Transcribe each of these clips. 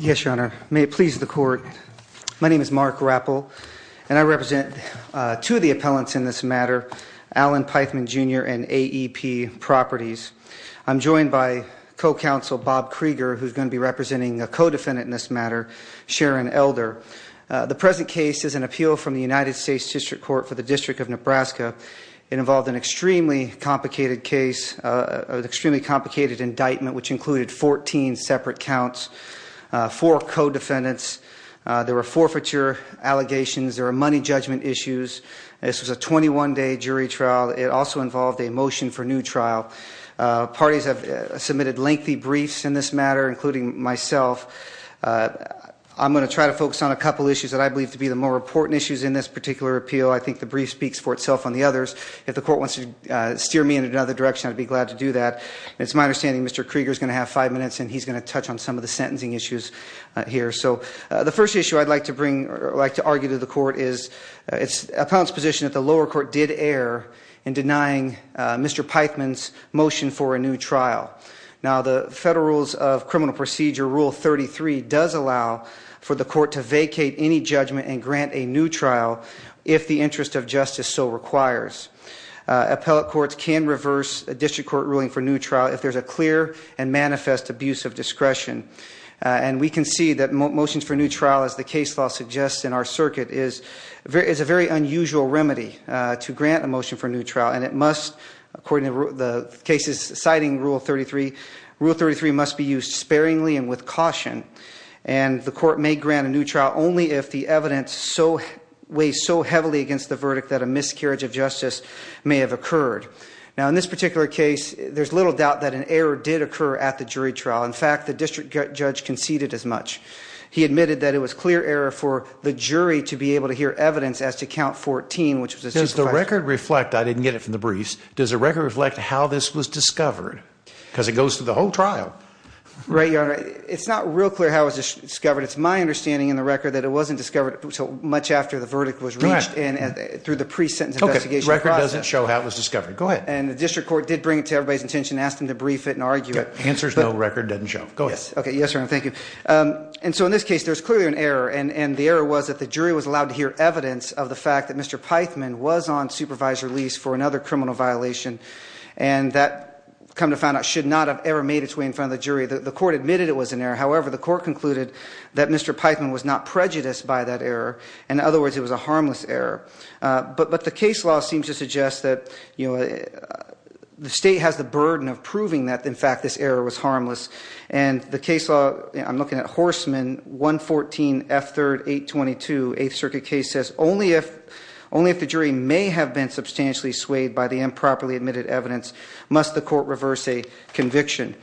Yes, Your Honor. May it please the court. My name is Mark Rappel, and I represent two of the appellants in this matter, Allen Peithman, Jr. and AEP Properties. I'm joined by co-counsel Bob Krieger, who's going to be representing a co-defendant in this matter, Sharon Elder. The present case is an appeal from the United States District Court for the District of Nebraska. It involved an extremely complicated case, an extremely complicated indictment, which included 14 separate counts. Four co-defendants. There were forfeiture allegations. There were money judgment issues. This was a 21-day jury trial. It also involved a motion for new trial. Parties have submitted lengthy briefs in this matter, including myself. I'm going to try to focus on a couple issues that I believe to be the more important issues in this particular appeal. I think the brief speaks for itself on the others. If the court wants to steer me in another direction, I'd be glad to do that. It's my understanding Mr. Krieger's going to have five minutes, and he's going to touch on some of the sentencing issues here. So the first issue I'd like to bring or like to argue to the court is the appellant's position that the lower court did err in denying Mr. Peithman's motion for a new trial. Now the Federal Rules of Criminal Procedure, Rule 33, does allow for the court to vacate any judgment and grant a new trial if the interest of justice so requires. Appellate courts can reverse a district court ruling for new trial if there's a clear and manifest abuse of discretion. And we can see that motions for new trial, as the case law suggests in our circuit, is a very unusual remedy to grant a motion for new trial. And it must, according to the cases citing Rule 33, Rule 33 must be used sparingly and with caution. And the court may grant a new trial only if the evidence weighs so heavily against the verdict that a miscarriage of justice may have occurred. Now in this particular case, there's little doubt that an error did occur at the jury trial. In fact, the district judge conceded as much. He admitted that it was clear error for the jury to be able to hear evidence as to count 14, which was a superficial error. Does the record reflect, I didn't get it from the briefs, does the record reflect how this was discovered? Because it goes through the whole trial. Right, Your Honor. It's not real clear how it was discovered. It's my understanding in the record that it wasn't discovered until much after the verdict was reached through the pre-sentence investigation process. Okay, the record doesn't show how it was discovered. Go ahead. And the district court did bring it to everybody's attention and asked them to brief it and argue it. The answer is no, the record doesn't show. Go ahead. Okay, yes, Your Honor. Thank you. And so in this case, there's clearly an error, and the error was that the jury was allowed to hear evidence of the fact that Mr. Pythman was on supervisor lease for another criminal violation. And that, come to find out, should not have ever made its way in front of the jury. The court admitted it was an error. However, the court concluded that Mr. Pythman was not prejudiced by that error. In other words, it was a harmless error. But the case law seems to suggest that the state has the burden of proving that, in fact, this error was harmless. And the case law, I'm looking at Horstman, 114 F. 3rd, 822, 8th Circuit case, says, Only if the jury may have been substantially swayed by the improperly admitted evidence must the court reverse a conviction.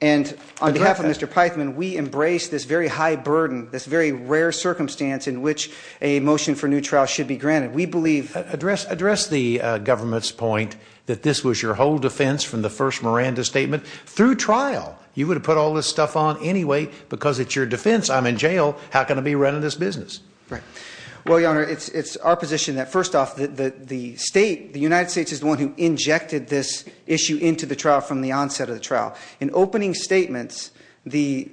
And on behalf of Mr. Pythman, we embrace this very high burden, this very rare circumstance in which a motion for new trial should be granted. Address the government's point that this was your whole defense from the first Miranda statement. Through trial, you would have put all this stuff on anyway because it's your defense. I'm in jail. How can I be running this business? Well, Your Honor, it's our position that, first off, the United States is the one who injected this issue into the trial from the onset of the trial. In opening statements, the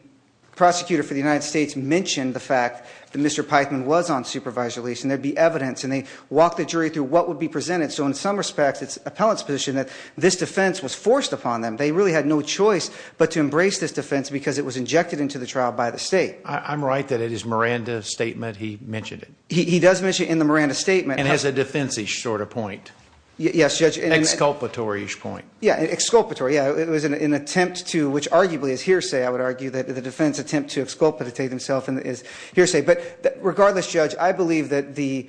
prosecutor for the United States mentioned the fact that Mr. Pythman was on supervisor lease. And there'd be evidence. And they walked the jury through what would be presented. So in some respects, it's appellant's position that this defense was forced upon them. They really had no choice but to embrace this defense because it was injected into the trial by the state. I'm right that it is Miranda's statement he mentioned it. He does mention it in the Miranda statement. And has a defense-ish sort of point. Yes, Judge. Exculpatory-ish point. Yeah, exculpatory. Yeah, it was an attempt to, which arguably is hearsay, I would argue, that the defense attempt to exculpate himself is hearsay. But regardless, Judge, I believe that the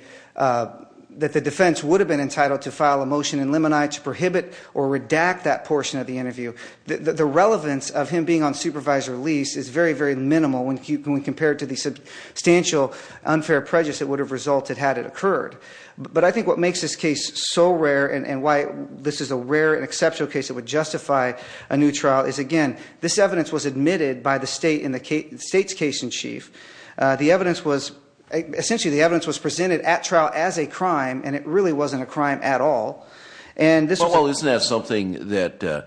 defense would have been entitled to file a motion in limini to prohibit or redact that portion of the interview. The relevance of him being on supervisor lease is very, very minimal when compared to the substantial unfair prejudice that would have resulted had it occurred. But I think what makes this case so rare and why this is a rare and exceptional case that would justify a new trial is, again, this evidence was admitted by the state's case in chief. The evidence was, essentially the evidence was presented at trial as a crime and it really wasn't a crime at all. Well, isn't that something that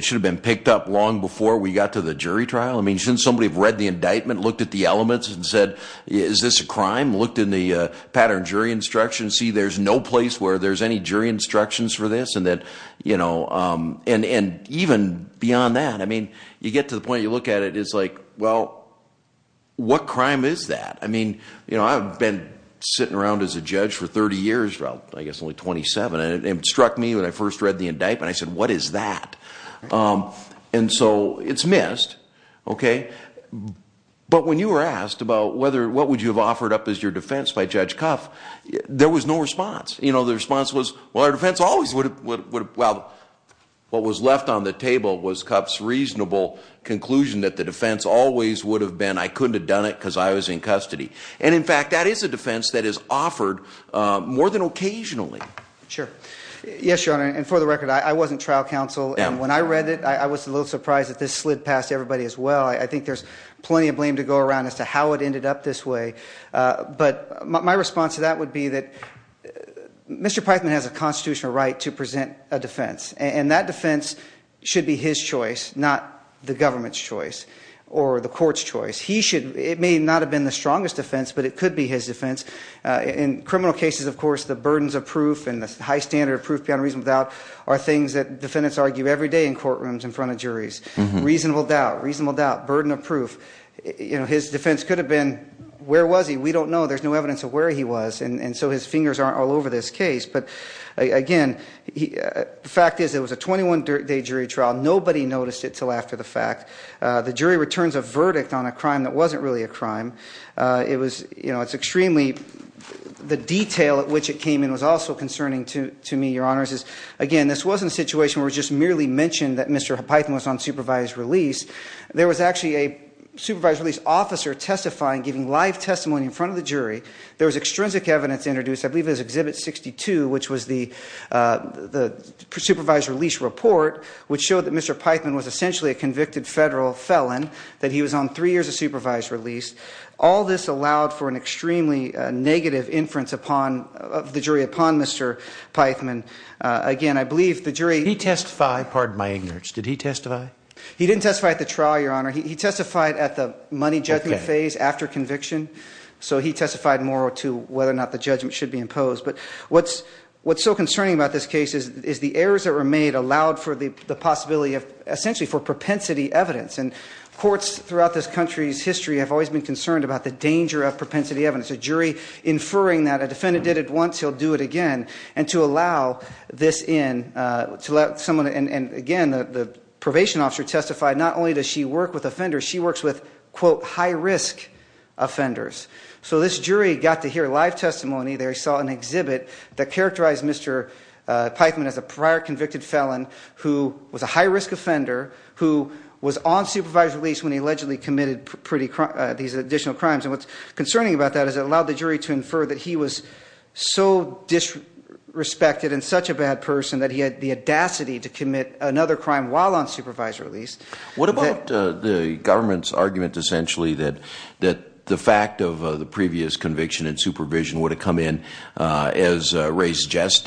should have been picked up long before we got to the jury trial? I mean, shouldn't somebody have read the indictment, looked at the elements and said, is this a crime? Looked in the pattern jury instructions, see there's no place where there's any jury instructions for this. And even beyond that, I mean, you get to the point, you look at it, it's like, well, what crime is that? I mean, I've been sitting around as a judge for 30 years, I guess only 27, and it struck me when I first read the indictment, I said, what is that? And so it's missed, okay? But when you were asked about what would you have offered up as your defense by Judge Cuff, there was no response. The response was, well, our defense always would have, well, what was left on the table was Cuff's reasonable conclusion that the defense always would have been, I couldn't have done it because I was in custody. And in fact, that is a defense that is offered more than occasionally. Sure. Yes, Your Honor, and for the record, I wasn't trial counsel. And when I read it, I was a little surprised that this slid past everybody as well. I think there's plenty of blame to go around as to how it ended up this way. But my response to that would be that Mr. Peitman has a constitutional right to present a defense, and that defense should be his choice, not the government's choice or the court's choice. It may not have been the strongest defense, but it could be his defense. In criminal cases, of course, the burdens of proof and the high standard of proof beyond reason without are things that defendants argue every day in courtrooms in front of juries. Reasonable doubt, reasonable doubt, burden of proof. His defense could have been, where was he? We don't know. There's no evidence of where he was, and so his fingers aren't all over this case. But again, the fact is it was a 21-day jury trial. Nobody noticed it until after the fact. The jury returns a verdict on a crime that wasn't really a crime. The detail at which it came in was also concerning to me, Your Honors. Again, this wasn't a situation where it was just merely mentioned that Mr. Peitman was on supervised release. There was actually a supervised release officer testifying, giving live testimony in front of the jury. There was extrinsic evidence introduced. I believe it was Exhibit 62, which was the supervised release report, which showed that Mr. Peitman was essentially a convicted federal felon, that he was on three years of supervised release. All this allowed for an extremely negative inference of the jury upon Mr. Peitman. Again, I believe the jury— He testified. Pardon my ignorance. Did he testify? He didn't testify at the trial, Your Honor. He testified at the money judgment phase after conviction. So he testified more to whether or not the judgment should be imposed. But what's so concerning about this case is the errors that were made allowed for the possibility of essentially for propensity evidence. And courts throughout this country's history have always been concerned about the danger of propensity evidence. A jury inferring that a defendant did it once, he'll do it again. And to allow this in, to let someone—and again, the probation officer testified, not only does she work with offenders, she works with, quote, high-risk offenders. So this jury got to hear live testimony. They saw an exhibit that characterized Mr. Peitman as a prior convicted felon who was a high-risk offender, who was on supervised release when he allegedly committed these additional crimes. And what's concerning about that is it allowed the jury to infer that he was so disrespected and such a bad person that he had the audacity to commit another crime while on supervised release. What about the government's argument essentially that the fact of the previous conviction and supervision would have come in as res geste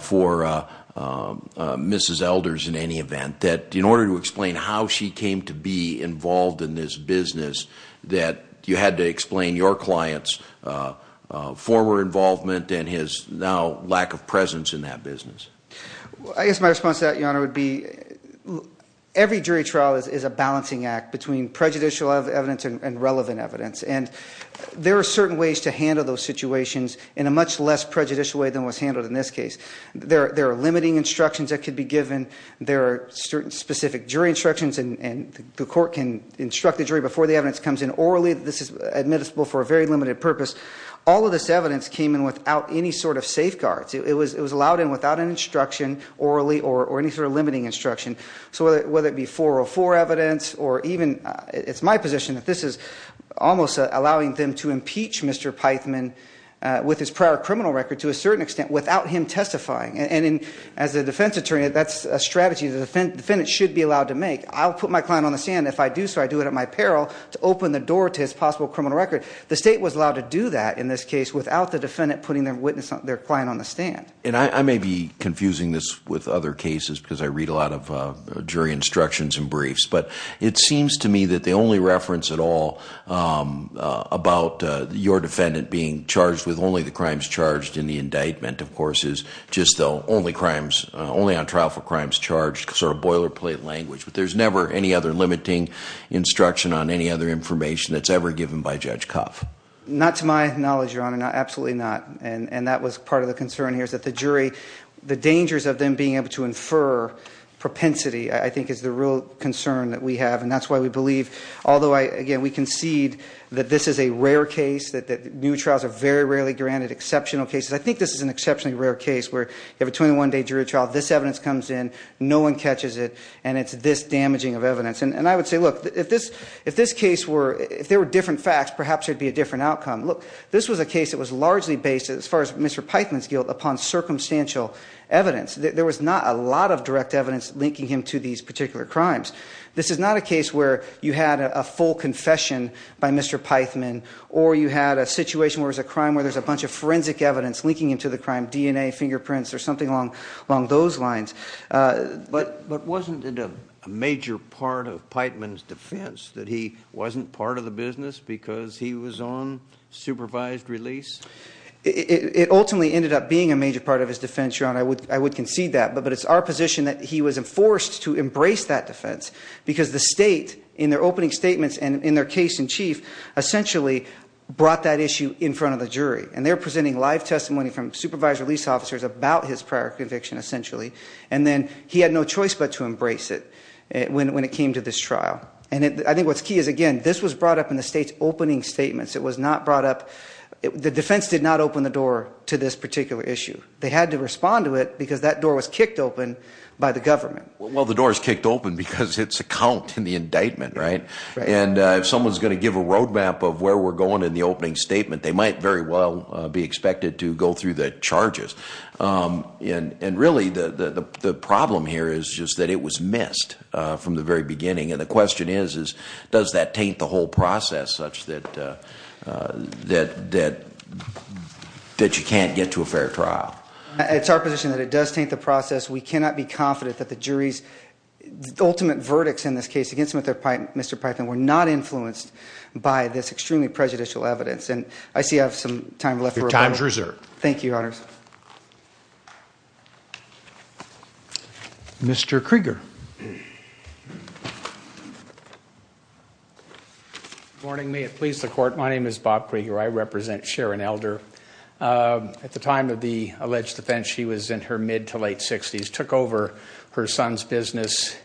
for Mrs. Elders in any event, that in order to explain how she came to be involved in this business, that you had to explain your client's former involvement and his now lack of presence in that business? I guess my response to that, Your Honor, would be every jury trial is a balancing act between prejudicial evidence and relevant evidence. And there are certain ways to handle those situations in a much less prejudicial way than was handled in this case. There are limiting instructions that could be given. There are specific jury instructions, and the court can instruct the jury before the evidence comes in orally. This is admissible for a very limited purpose. All of this evidence came in without any sort of safeguards. It was allowed in without an instruction orally or any sort of limiting instruction. So whether it be 404 evidence or even it's my position that this is almost allowing them to impeach Mr. Pythman with his prior criminal record to a certain extent without him testifying. And as a defense attorney, that's a strategy the defendant should be allowed to make. I'll put my client on the stand. If I do so, I do it at my peril to open the door to his possible criminal record. The state was allowed to do that in this case without the defendant putting their witness, their client on the stand. And I may be confusing this with other cases because I read a lot of jury instructions and briefs. But it seems to me that the only reference at all about your defendant being charged with only the crimes charged in the indictment, of course, is just the only crimes, only on trial for crimes charged, sort of boilerplate language. But there's never any other limiting instruction on any other information that's ever given by Judge Cuff. Not to my knowledge, Your Honor. Absolutely not. And that was part of the concern here is that the jury, the dangers of them being able to infer propensity, I think, is the real concern that we have. And that's why we believe, although, again, we concede that this is a rare case, that new trials are very rarely granted, exceptional cases. I think this is an exceptionally rare case where you have a 21-day jury trial, this evidence comes in, no one catches it, and it's this damaging of evidence. And I would say, look, if this case were, if there were different facts, perhaps there would be a different outcome. Look, this was a case that was largely based, as far as Mr. Pithman's guilt, upon circumstantial evidence. There was not a lot of direct evidence linking him to these particular crimes. This is not a case where you had a full confession by Mr. Pithman, or you had a situation where there's a crime where there's a bunch of forensic evidence linking him to the crime, DNA, fingerprints, or something along those lines. But wasn't it a major part of Pithman's defense that he wasn't part of the business because he was on supervised release? It ultimately ended up being a major part of his defense, Your Honor. I would concede that. But it's our position that he was enforced to embrace that defense because the state, in their opening statements and in their case in chief, essentially brought that issue in front of the jury. And they're presenting live testimony from supervised release officers about his prior conviction, essentially. And then he had no choice but to embrace it when it came to this trial. And I think what's key is, again, this was brought up in the state's opening statements. It was not brought up, the defense did not open the door to this particular issue. They had to respond to it because that door was kicked open by the government. Well, the door is kicked open because it's a count in the indictment, right? Right. And if someone's going to give a roadmap of where we're going in the opening statement, they might very well be expected to go through the charges. And really, the problem here is just that it was missed from the very beginning. And the question is, does that taint the whole process such that you can't get to a fair trial? It's our position that it does taint the process. We cannot be confident that the jury's ultimate verdicts in this case against Mr. Python were not influenced by this extremely prejudicial evidence. And I see I have some time left. Your time is reserved. Thank you, Your Honors. Mr. Krieger. Good morning. May it please the Court. My name is Bob Krieger. I represent Sharon Elder. At the time of the alleged offense, she was in her mid to late 60s, took over her son's business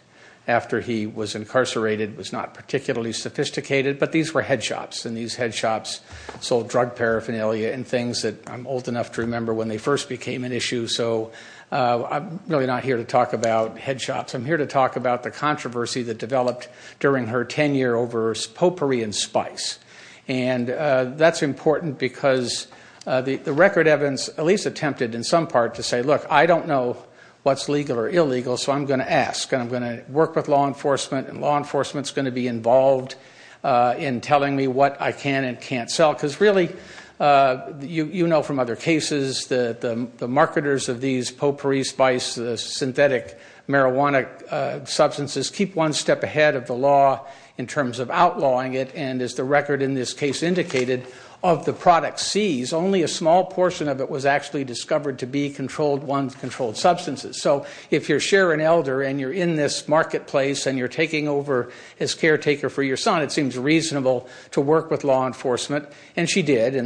after he was incarcerated, was not particularly sophisticated. But these were head shops, and these head shops sold drug paraphernalia and things that I'm old enough to remember when they first became an issue. So I'm really not here to talk about head shops. I'm here to talk about the controversy that developed during her tenure over potpourri and spice. And that's important because the record evidence at least attempted in some part to say, look, I don't know what's legal or illegal, so I'm going to ask. I'm going to work with law enforcement, and law enforcement is going to be involved in telling me what I can and can't sell. Because really, you know from other cases that the marketers of these potpourri, spice, synthetic marijuana substances keep one step ahead of the law in terms of outlawing it. And as the record in this case indicated, of the product seized, only a small portion of it was actually discovered to be controlled ones, controlled substances. So if you're Sharon Elder and you're in this marketplace and you're taking over as caretaker for your son, it seems reasonable to work with law enforcement. And she did, and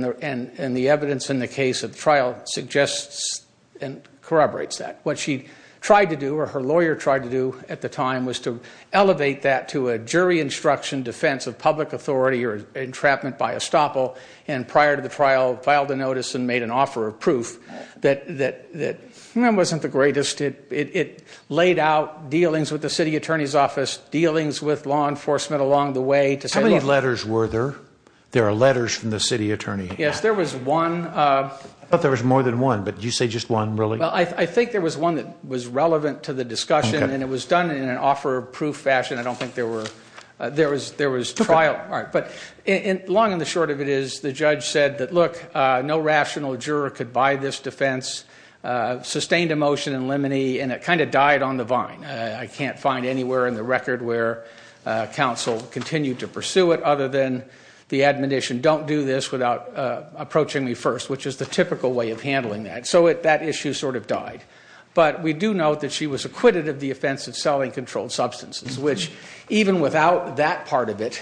the evidence in the case of the trial suggests and corroborates that. What she tried to do or her lawyer tried to do at the time was to elevate that to a jury instruction defense of public authority or entrapment by estoppel. And prior to the trial, filed a notice and made an offer of proof that wasn't the greatest. It laid out dealings with the city attorney's office, dealings with law enforcement along the way. How many letters were there? There are letters from the city attorney. Yes, there was one. I thought there was more than one, but did you say just one really? Well, I think there was one that was relevant to the discussion, and it was done in an offer of proof fashion. I don't think there were, there was trial. But long and the short of it is the judge said that, look, no rational juror could buy this defense, sustained a motion in limine, and it kind of died on the vine. I can't find anywhere in the record where counsel continued to pursue it other than the admonition, don't do this without approaching me first, which is the typical way of handling that. So that issue sort of died. But we do note that she was acquitted of the offense of selling controlled substances, which even without that part of it,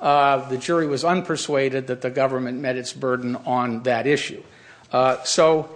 the jury was unpersuaded that the government met its burden on that issue. So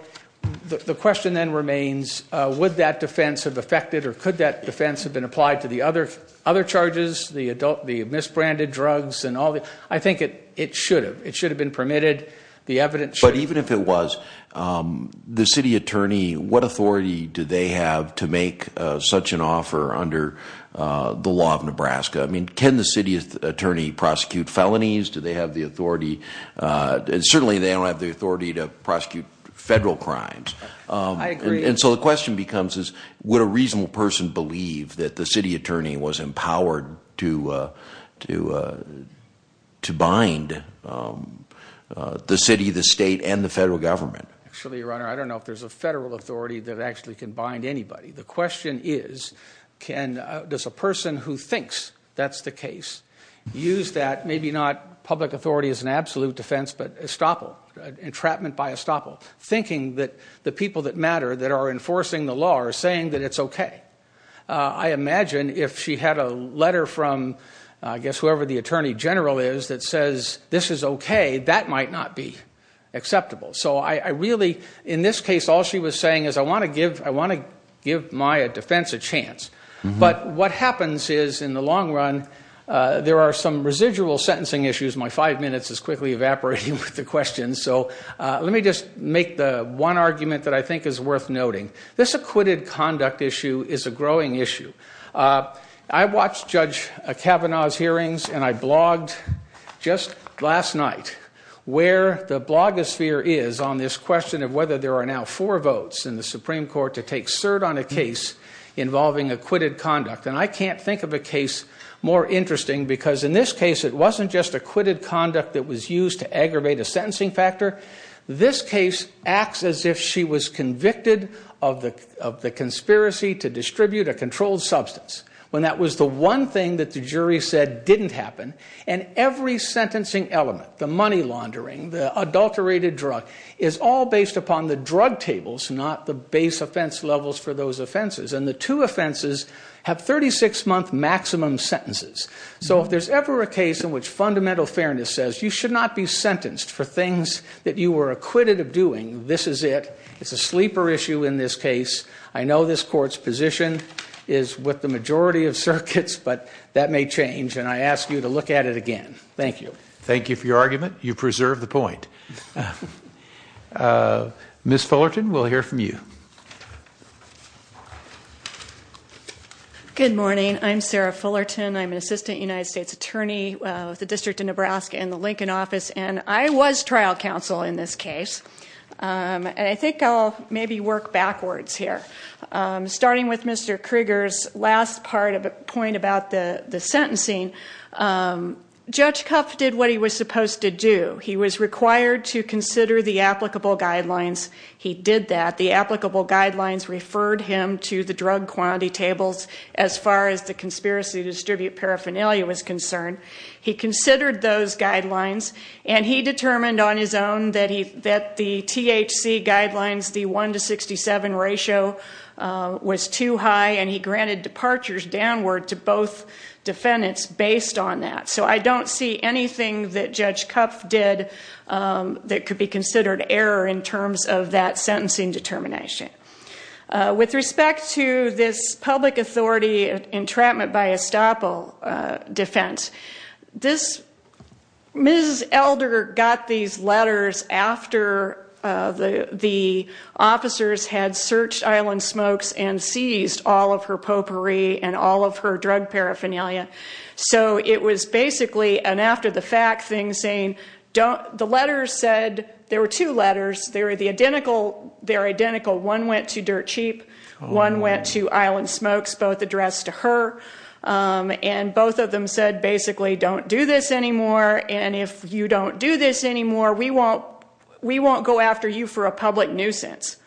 the question then remains, would that defense have affected or could that defense have been applied to the other charges, the misbranded drugs and all that? I think it should have. It should have been permitted. But even if it was, the city attorney, what authority do they have to make such an offer under the law of Nebraska? I mean, can the city attorney prosecute felonies? Do they have the authority, and certainly they don't have the authority to prosecute federal crimes. I agree. And so the question becomes is, would a reasonable person believe that the city attorney was empowered to bind the city, the state, and the federal government? Actually, Your Honor, I don't know if there's a federal authority that actually can bind anybody. The question is, does a person who thinks that's the case use that, maybe not public authority as an absolute defense, but estoppel, entrapment by estoppel, thinking that the people that matter that are enforcing the law are saying that it's okay? I imagine if she had a letter from I guess whoever the attorney general is that says this is okay, that might not be acceptable. So I really, in this case, all she was saying is I want to give my defense a chance. But what happens is in the long run, there are some residual sentencing issues. My five minutes is quickly evaporating with the questions. So let me just make the one argument that I think is worth noting. This acquitted conduct issue is a growing issue. I watched Judge Kavanaugh's hearings, and I blogged just last night where the blogosphere is on this question of whether there are now four votes in the Supreme Court to take cert on a case involving acquitted conduct. And I can't think of a case more interesting because in this case, it wasn't just acquitted conduct that was used to aggravate a sentencing factor. This case acts as if she was convicted of the conspiracy to distribute a controlled substance when that was the one thing that the jury said didn't happen. And every sentencing element, the money laundering, the adulterated drug, is all based upon the drug tables, not the base offense levels for those offenses. And the two offenses have 36-month maximum sentences. So if there's ever a case in which fundamental fairness says you should not be sentenced for things that you were acquitted of doing, this is it. It's a sleeper issue in this case. I know this court's position is with the majority of circuits, but that may change. And I ask you to look at it again. Thank you. Thank you for your argument. You preserve the point. Ms. Fullerton, we'll hear from you. Good morning. I'm Sarah Fullerton. I'm an assistant United States attorney with the District of Nebraska in the Lincoln office. And I was trial counsel in this case. And I think I'll maybe work backwards here. Starting with Mr. Krieger's last point about the sentencing, Judge Kuff did what he was supposed to do. He was required to consider the applicable guidelines. He did that. The applicable guidelines referred him to the drug quantity tables as far as the conspiracy to distribute paraphernalia was concerned. He considered those guidelines. And he determined on his own that the THC guidelines, the 1 to 67 ratio, was too high. And he granted departures downward to both defendants based on that. So I don't see anything that Judge Kuff did that could be considered error in terms of that sentencing determination. With respect to this public authority entrapment by estoppel defense, Ms. Elder got these letters after the officers had searched Island Smokes and seized all of her potpourri and all of her drug paraphernalia. So it was basically an after-the-fact thing saying, the letters said, there were two letters. They were identical. One went to Dirt Cheap. One went to Island Smokes, both addressed to her. And both of them said basically, don't do this anymore. And if you don't do this anymore, we won't go after you for a public nuisance.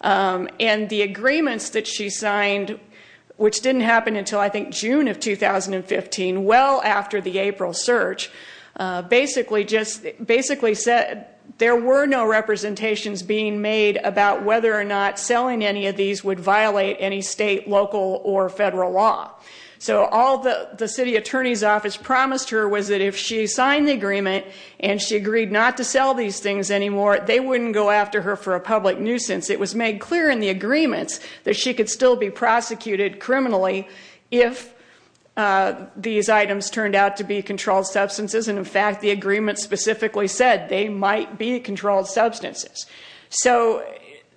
And the agreements that she signed, which didn't happen until I think June of 2015, well after the April search, basically said there were no representations being made about whether or not selling any of these would violate any state, local, or federal law. So all the city attorney's office promised her was that if she signed the agreement and she agreed not to sell these things anymore, they wouldn't go after her for a public nuisance. It was made clear in the agreements that she could still be prosecuted criminally if these items turned out to be controlled substances. And, in fact, the agreement specifically said they might be controlled substances. So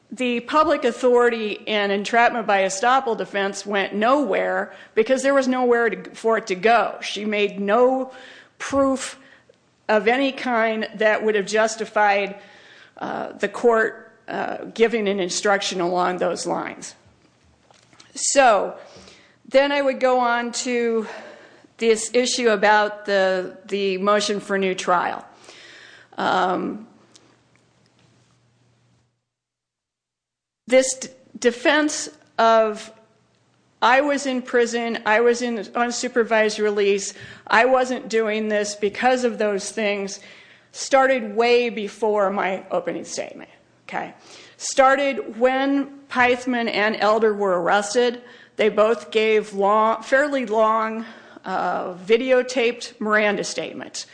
the public authority and entrapment by estoppel defense went nowhere because there was nowhere for it to go. She made no proof of any kind that would have justified the court giving an instruction along those lines. So then I would go on to this issue about the motion for new trial. This defense of, I was in prison, I was in unsupervised release, I wasn't doing this because of those things, started way before my opening statement. Started when Pithman and Elder were arrested. They both gave fairly long videotaped Miranda statements.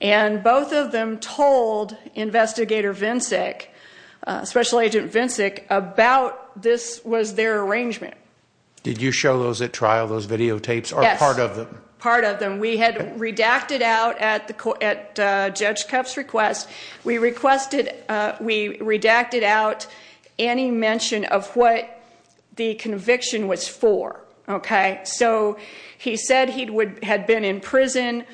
And both of them told Investigator Vincic, Special Agent Vincic, about this was their arrangement. Did you show those at trial, those videotapes, or part of them? Yes, part of them. We had redacted out at Judge Koepp's request, we requested, we redacted out any mention of what the conviction was for. So he said he had been in prison,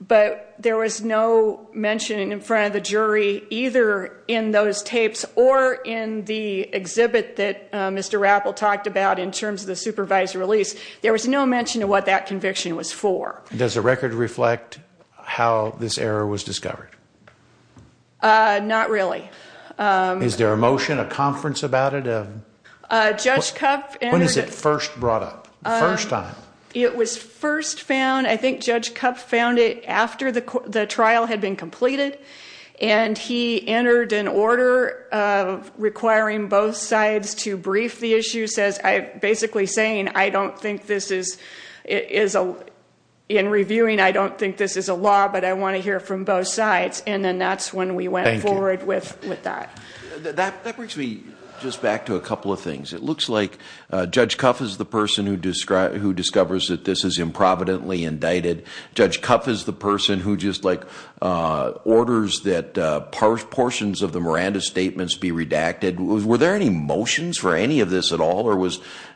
but there was no mention in front of the jury either in those tapes or in the exhibit that Mr. Rappel talked about in terms of the supervised release. There was no mention of what that conviction was for. Does the record reflect how this error was discovered? Not really. Is there a motion, a conference about it? When was it first brought up, the first time? It was first found, I think Judge Koepp found it after the trial had been completed. And he entered an order requiring both sides to brief the issue, basically saying, I don't think this is, in reviewing, I don't think this is a law, but I want to hear from both sides. And then that's when we went forward with that. That brings me just back to a couple of things. It looks like Judge Koepp is the person who discovers that this is improvidently indicted. Judge Koepp is the person who just orders that portions of the Miranda statements be redacted. Were there any motions for any of this at all?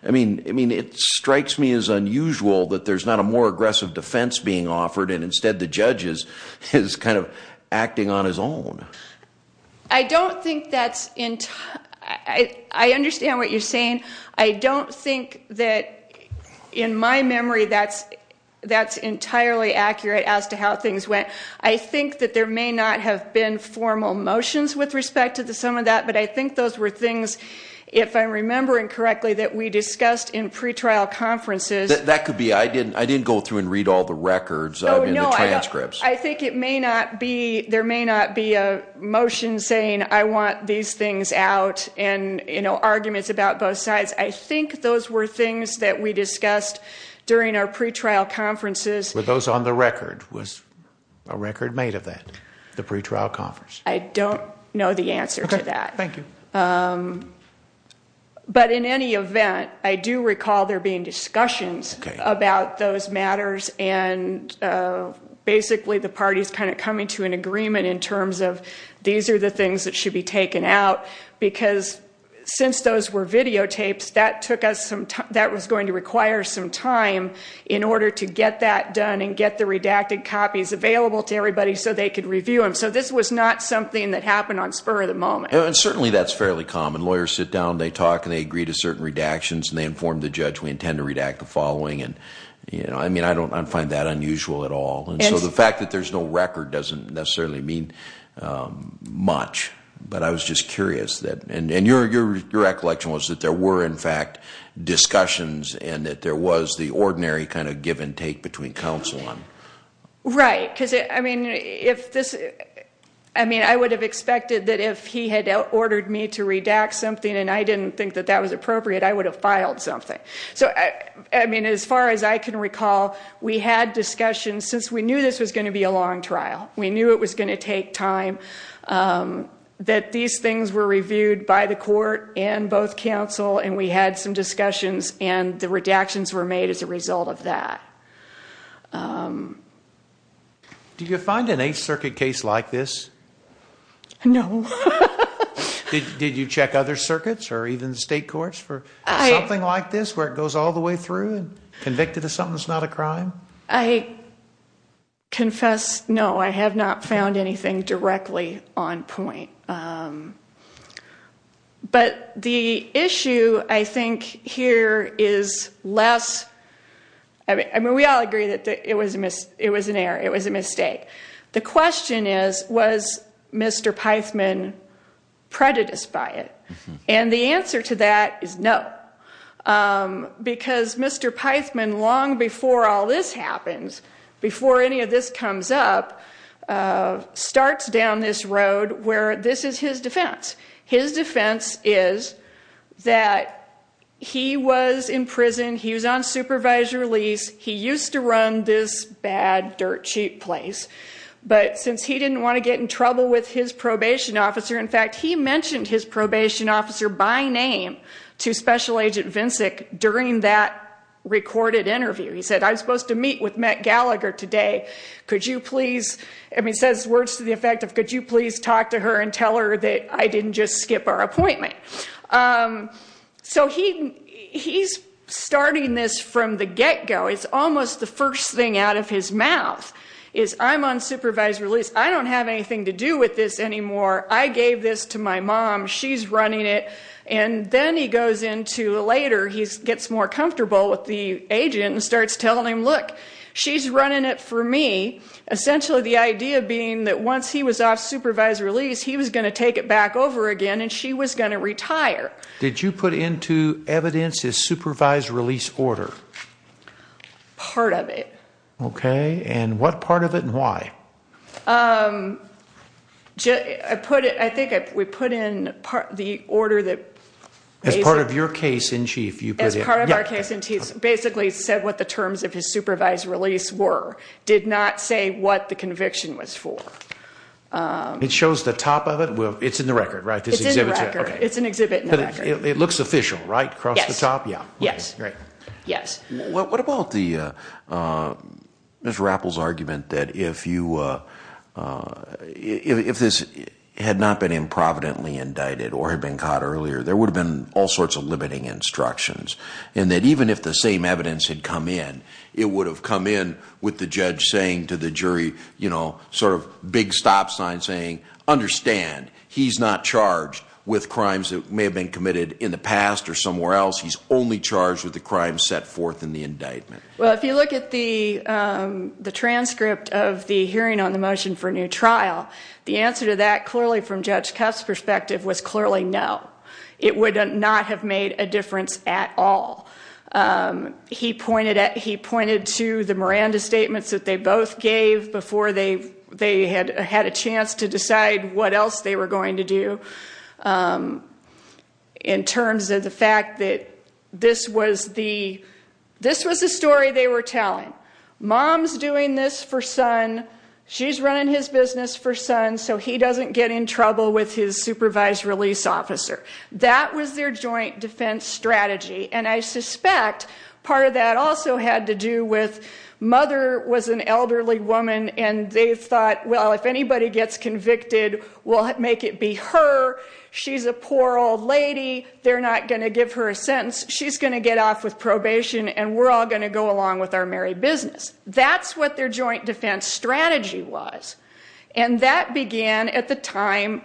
I mean, it strikes me as unusual that there's not a more aggressive defense being offered and instead the judge is kind of acting on his own. I don't think that's, I understand what you're saying. I don't think that, in my memory, that's entirely accurate as to how things went. I think that there may not have been formal motions with respect to some of that. But I think those were things, if I'm remembering correctly, that we discussed in pretrial conferences. That could be. I didn't go through and read all the records, the transcripts. I think it may not be, there may not be a motion saying I want these things out and arguments about both sides. I think those were things that we discussed during our pretrial conferences. Were those on the record? Was a record made of that, the pretrial conference? I don't know the answer to that. Thank you. But in any event, I do recall there being discussions about those matters. And basically the parties kind of coming to an agreement in terms of these are the things that should be taken out. Because since those were videotapes, that was going to require some time in order to get that done and get the redacted copies available to everybody so they could review them. So this was not something that happened on spur of the moment. And certainly that's fairly common. Lawyers sit down, they talk, and they agree to certain redactions. And they inform the judge, we intend to redact the following. And I find that unusual at all. And so the fact that there's no record doesn't necessarily mean much. But I was just curious. And your recollection was that there were, in fact, discussions and that there was the ordinary kind of give and take between counsel. Right. Because, I mean, I would have expected that if he had ordered me to redact something and I didn't think that that was appropriate, I would have filed something. So, I mean, as far as I can recall, we had discussions since we knew this was going to be a long trial. We knew it was going to take time. That these things were reviewed by the court and both counsel and we had some discussions and the redactions were made as a result of that. Do you find an Eighth Circuit case like this? No. Did you check other circuits or even state courts for something like this where it goes all the way through and convicted of something that's not a crime? I confess no. I have not found anything directly on point. But the issue, I think, here is less. I mean, we all agree that it was an error. It was a mistake. The question is, was Mr. Pythman prejudiced by it? And the answer to that is no. Because Mr. Pythman, long before all this happens, before any of this comes up, starts down this road where this is his defense. His defense is that he was in prison. He was on supervisory release. He used to run this bad dirt cheap place. But since he didn't want to get in trouble with his probation officer, in fact, he mentioned his probation officer by name to Special Agent Vincic during that recorded interview. He said, I'm supposed to meet with Met Gallagher today. Could you please, I mean, says words to the effect of, could you please talk to her and tell her that I didn't just skip our appointment? So he's starting this from the get-go. It's almost the first thing out of his mouth is, I'm on supervisory release. I don't have anything to do with this anymore. I gave this to my mom. She's running it. And then he goes into later, he gets more comfortable with the agent and starts telling him, look, she's running it for me, essentially the idea being that once he was off supervisory release, he was going to take it back over again and she was going to retire. Did you put into evidence his supervised release order? Part of it. Okay. And what part of it and why? I put it, I think we put in the order that. As part of your case in chief. As part of our case in chief. Basically said what the terms of his supervised release were. Did not say what the conviction was for. It shows the top of it. It's in the record, right? It's in the record. It's an exhibit in the record. It looks official, right? Across the top. Yeah. Yes. Right. Yes. What about the, Mr. Rappel's argument that if you, if this had not been improvidently indicted or had been caught earlier, there would have been all sorts of limiting instructions and that even if the same evidence had come in, it would have come in with the judge saying to the jury, you know, sort of big stop sign saying, understand, he's not charged with crimes that may have been committed in the past or somewhere else. He's only charged with the crime set forth in the indictment. Well, if you look at the transcript of the hearing on the motion for new trial, the answer to that clearly from Judge Cuff's perspective was clearly no. It would not have made a difference at all. He pointed to the Miranda statements that they both gave before they had a chance to decide what else they were going to do in terms of the fact that this was the story they were telling. Mom's doing this for son. She's running his business for son so he doesn't get in trouble with his supervised release officer. That was their joint defense strategy. And I suspect part of that also had to do with mother was an elderly woman and they thought, well, if anybody gets convicted, we'll make it be her. She's a poor old lady. They're not going to give her a sentence. She's going to get off with probation and we're all going to go along with our merry business. That's what their joint defense strategy was. And that began at the time,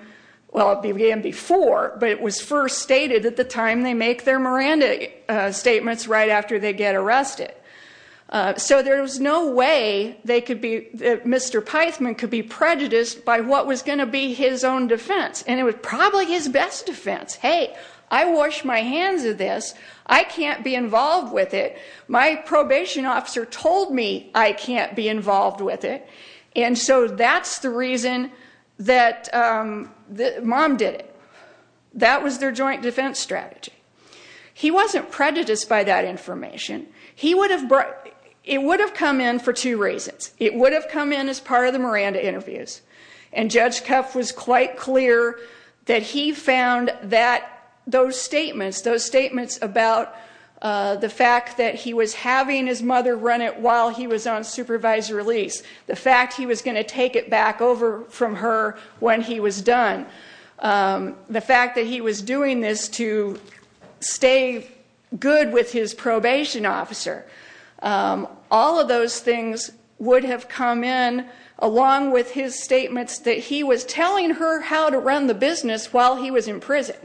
well, it began before, but it was first stated at the time they make their Miranda statements right after they get arrested. So there was no way they could be, Mr. Peisman could be prejudiced by what was going to be his own defense. And it was probably his best defense. Hey, I washed my hands of this. I can't be involved with it. My probation officer told me I can't be involved with it. And so that's the reason that mom did it. That was their joint defense strategy. He wasn't prejudiced by that information. It would have come in for two reasons. It would have come in as part of the Miranda interviews. And Judge Kuff was quite clear that he found that those statements, those statements about the fact that he was having his mother run it while he was on supervised release, the fact he was going to take it back over from her when he was done, the fact that he was doing this to stay good with his probation officer, all of those things would have come in along with his statements that he was telling her how to run the business while he was in prison.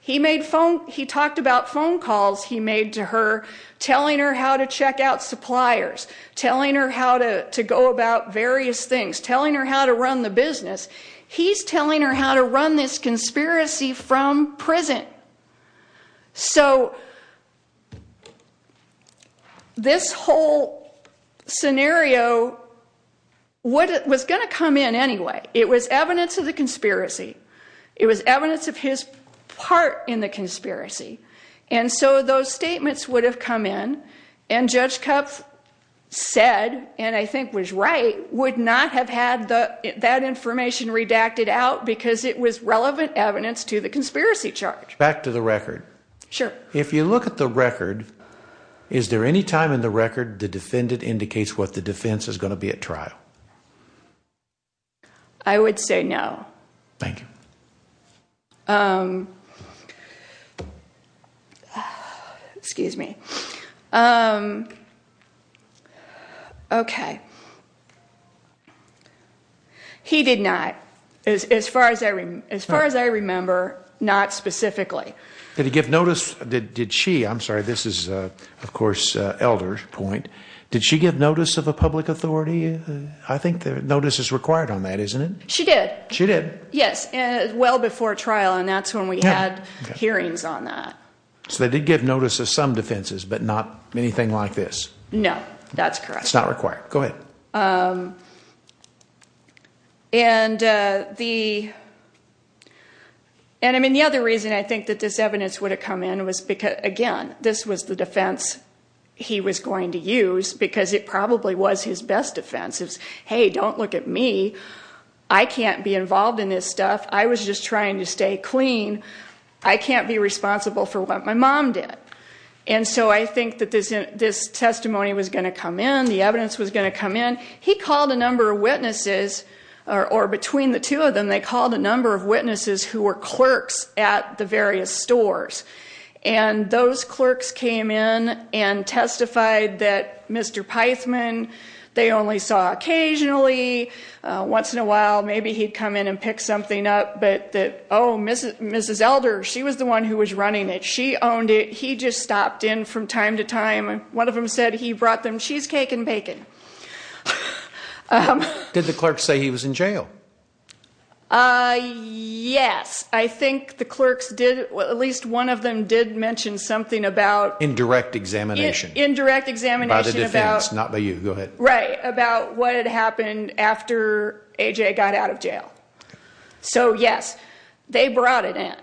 He talked about phone calls he made to her, telling her how to check out suppliers, telling her how to go about various things, telling her how to run the business. He's telling her how to run this conspiracy from prison. So this whole scenario was going to come in anyway. It was evidence of the conspiracy. It was evidence of his part in the conspiracy. And so those statements would have come in. And Judge Kuff said, and I think was right, would not have had that information redacted out because it was relevant evidence to the conspiracy charge. Back to the record. Sure. If you look at the record, is there any time in the record the defendant indicates what the defense is going to be at trial? I would say no. Thank you. Excuse me. Okay. He did not, as far as I remember, not specifically. Did he give notice? Did she? I'm sorry, this is, of course, Elder's point. Did she give notice of a public authority? I think notice is required on that, isn't it? She did. She did. Yes, well before trial, and that's when we had hearings on that. So they did give notice of some defenses, but not anything like this? No, that's correct. It's not required. Go ahead. And the other reason I think that this evidence would have come in was because, again, this was the defense he was going to use because it probably was his best defense. It was, hey, don't look at me. I can't be involved in this stuff. I was just trying to stay clean. I can't be responsible for what my mom did. And so I think that this testimony was going to come in, the evidence was going to come in. He called a number of witnesses, or between the two of them, they called a number of witnesses who were clerks at the various stores. And those clerks came in and testified that Mr. Pithman, they only saw occasionally, once in a while maybe he'd come in and pick something up, but that, oh, Mrs. Elder, she was the one who was running it. She owned it. He just stopped in from time to time. One of them said he brought them cheesecake and bacon. Did the clerks say he was in jail? Yes. I think the clerks did, at least one of them did mention something about Indirect examination. Indirect examination about By the defense, not by you. Go ahead. Right, about what had happened after A.J. got out of jail. So, yes, they brought it in.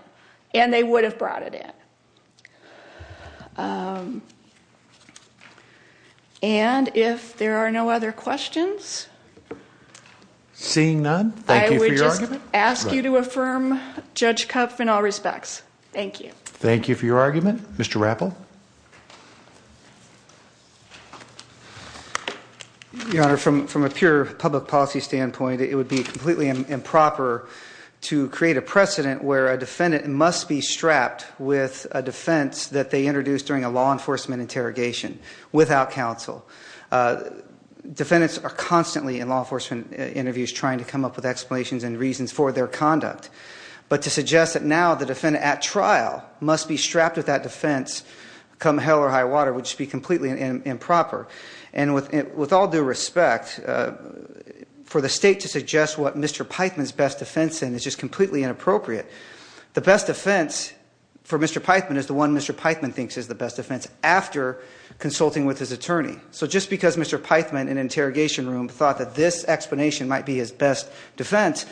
And they would have brought it in. And if there are no other questions? Seeing none, thank you for your argument. I ask you to affirm Judge Kupf in all respects. Thank you. Thank you for your argument. Mr. Rappel? Your Honor, from a pure public policy standpoint, it would be completely improper to create a precedent where a defendant must be strapped with a defense that they introduced during a law enforcement interrogation without counsel. Defendants are constantly in law enforcement interviews trying to come up with reasons for their conduct. But to suggest that now the defendant at trial must be strapped with that defense come hell or high water would just be completely improper. And with all due respect, for the state to suggest what Mr. Pithman's best defense is is just completely inappropriate. The best defense for Mr. Pithman is the one Mr. Pithman thinks is the best defense after consulting with his attorney. So just because Mr. Pithman in an interrogation room thought that this was the best defense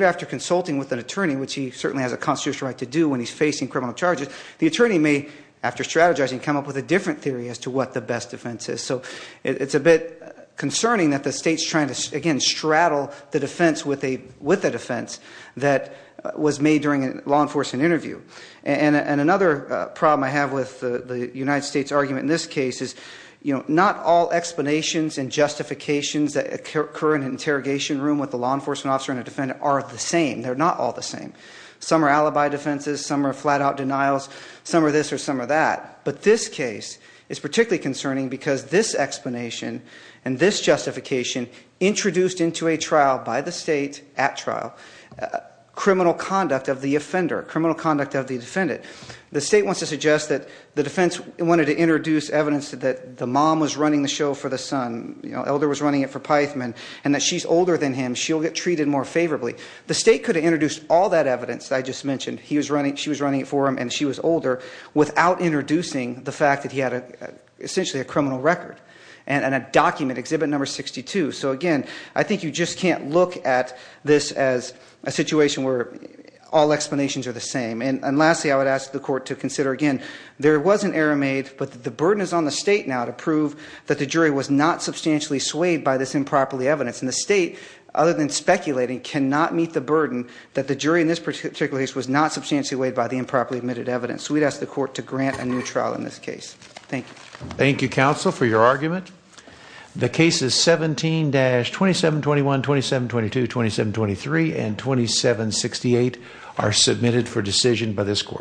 after consulting with an attorney, which he certainly has a constitutional right to do when he's facing criminal charges, the attorney may, after strategizing, come up with a different theory as to what the best defense is. So it's a bit concerning that the state's trying to, again, straddle the defense with a defense that was made during a law enforcement interview. And another problem I have with the United States' argument in this case is not all explanations and justifications that occur in an interrogation room with a law enforcement officer and a defendant are the same. They're not all the same. Some are alibi defenses, some are flat-out denials, some are this or some are that. But this case is particularly concerning because this explanation and this justification introduced into a trial by the state at trial, criminal conduct of the offender, criminal conduct of the defendant. The state wants to suggest that the defense wanted to introduce evidence that the mom was running the show for the son, that the elder was running it for Pythman, and that she's older than him. She'll get treated more favorably. The state could have introduced all that evidence that I just mentioned, she was running it for him and she was older, without introducing the fact that he had essentially a criminal record and a document, Exhibit No. 62. So, again, I think you just can't look at this as a situation where all explanations are the same. And lastly, I would ask the court to consider, again, there was an error made but the burden is on the state now to prove that the jury was not substantially swayed by this improperly evidence. And the state, other than speculating, cannot meet the burden that the jury in this particular case was not substantially weighed by the improperly admitted evidence. So we'd ask the court to grant a new trial in this case. Thank you. Thank you, counsel, for your argument. The cases 17-2721, 2722, 2723, and 2768 are submitted for decision by this court.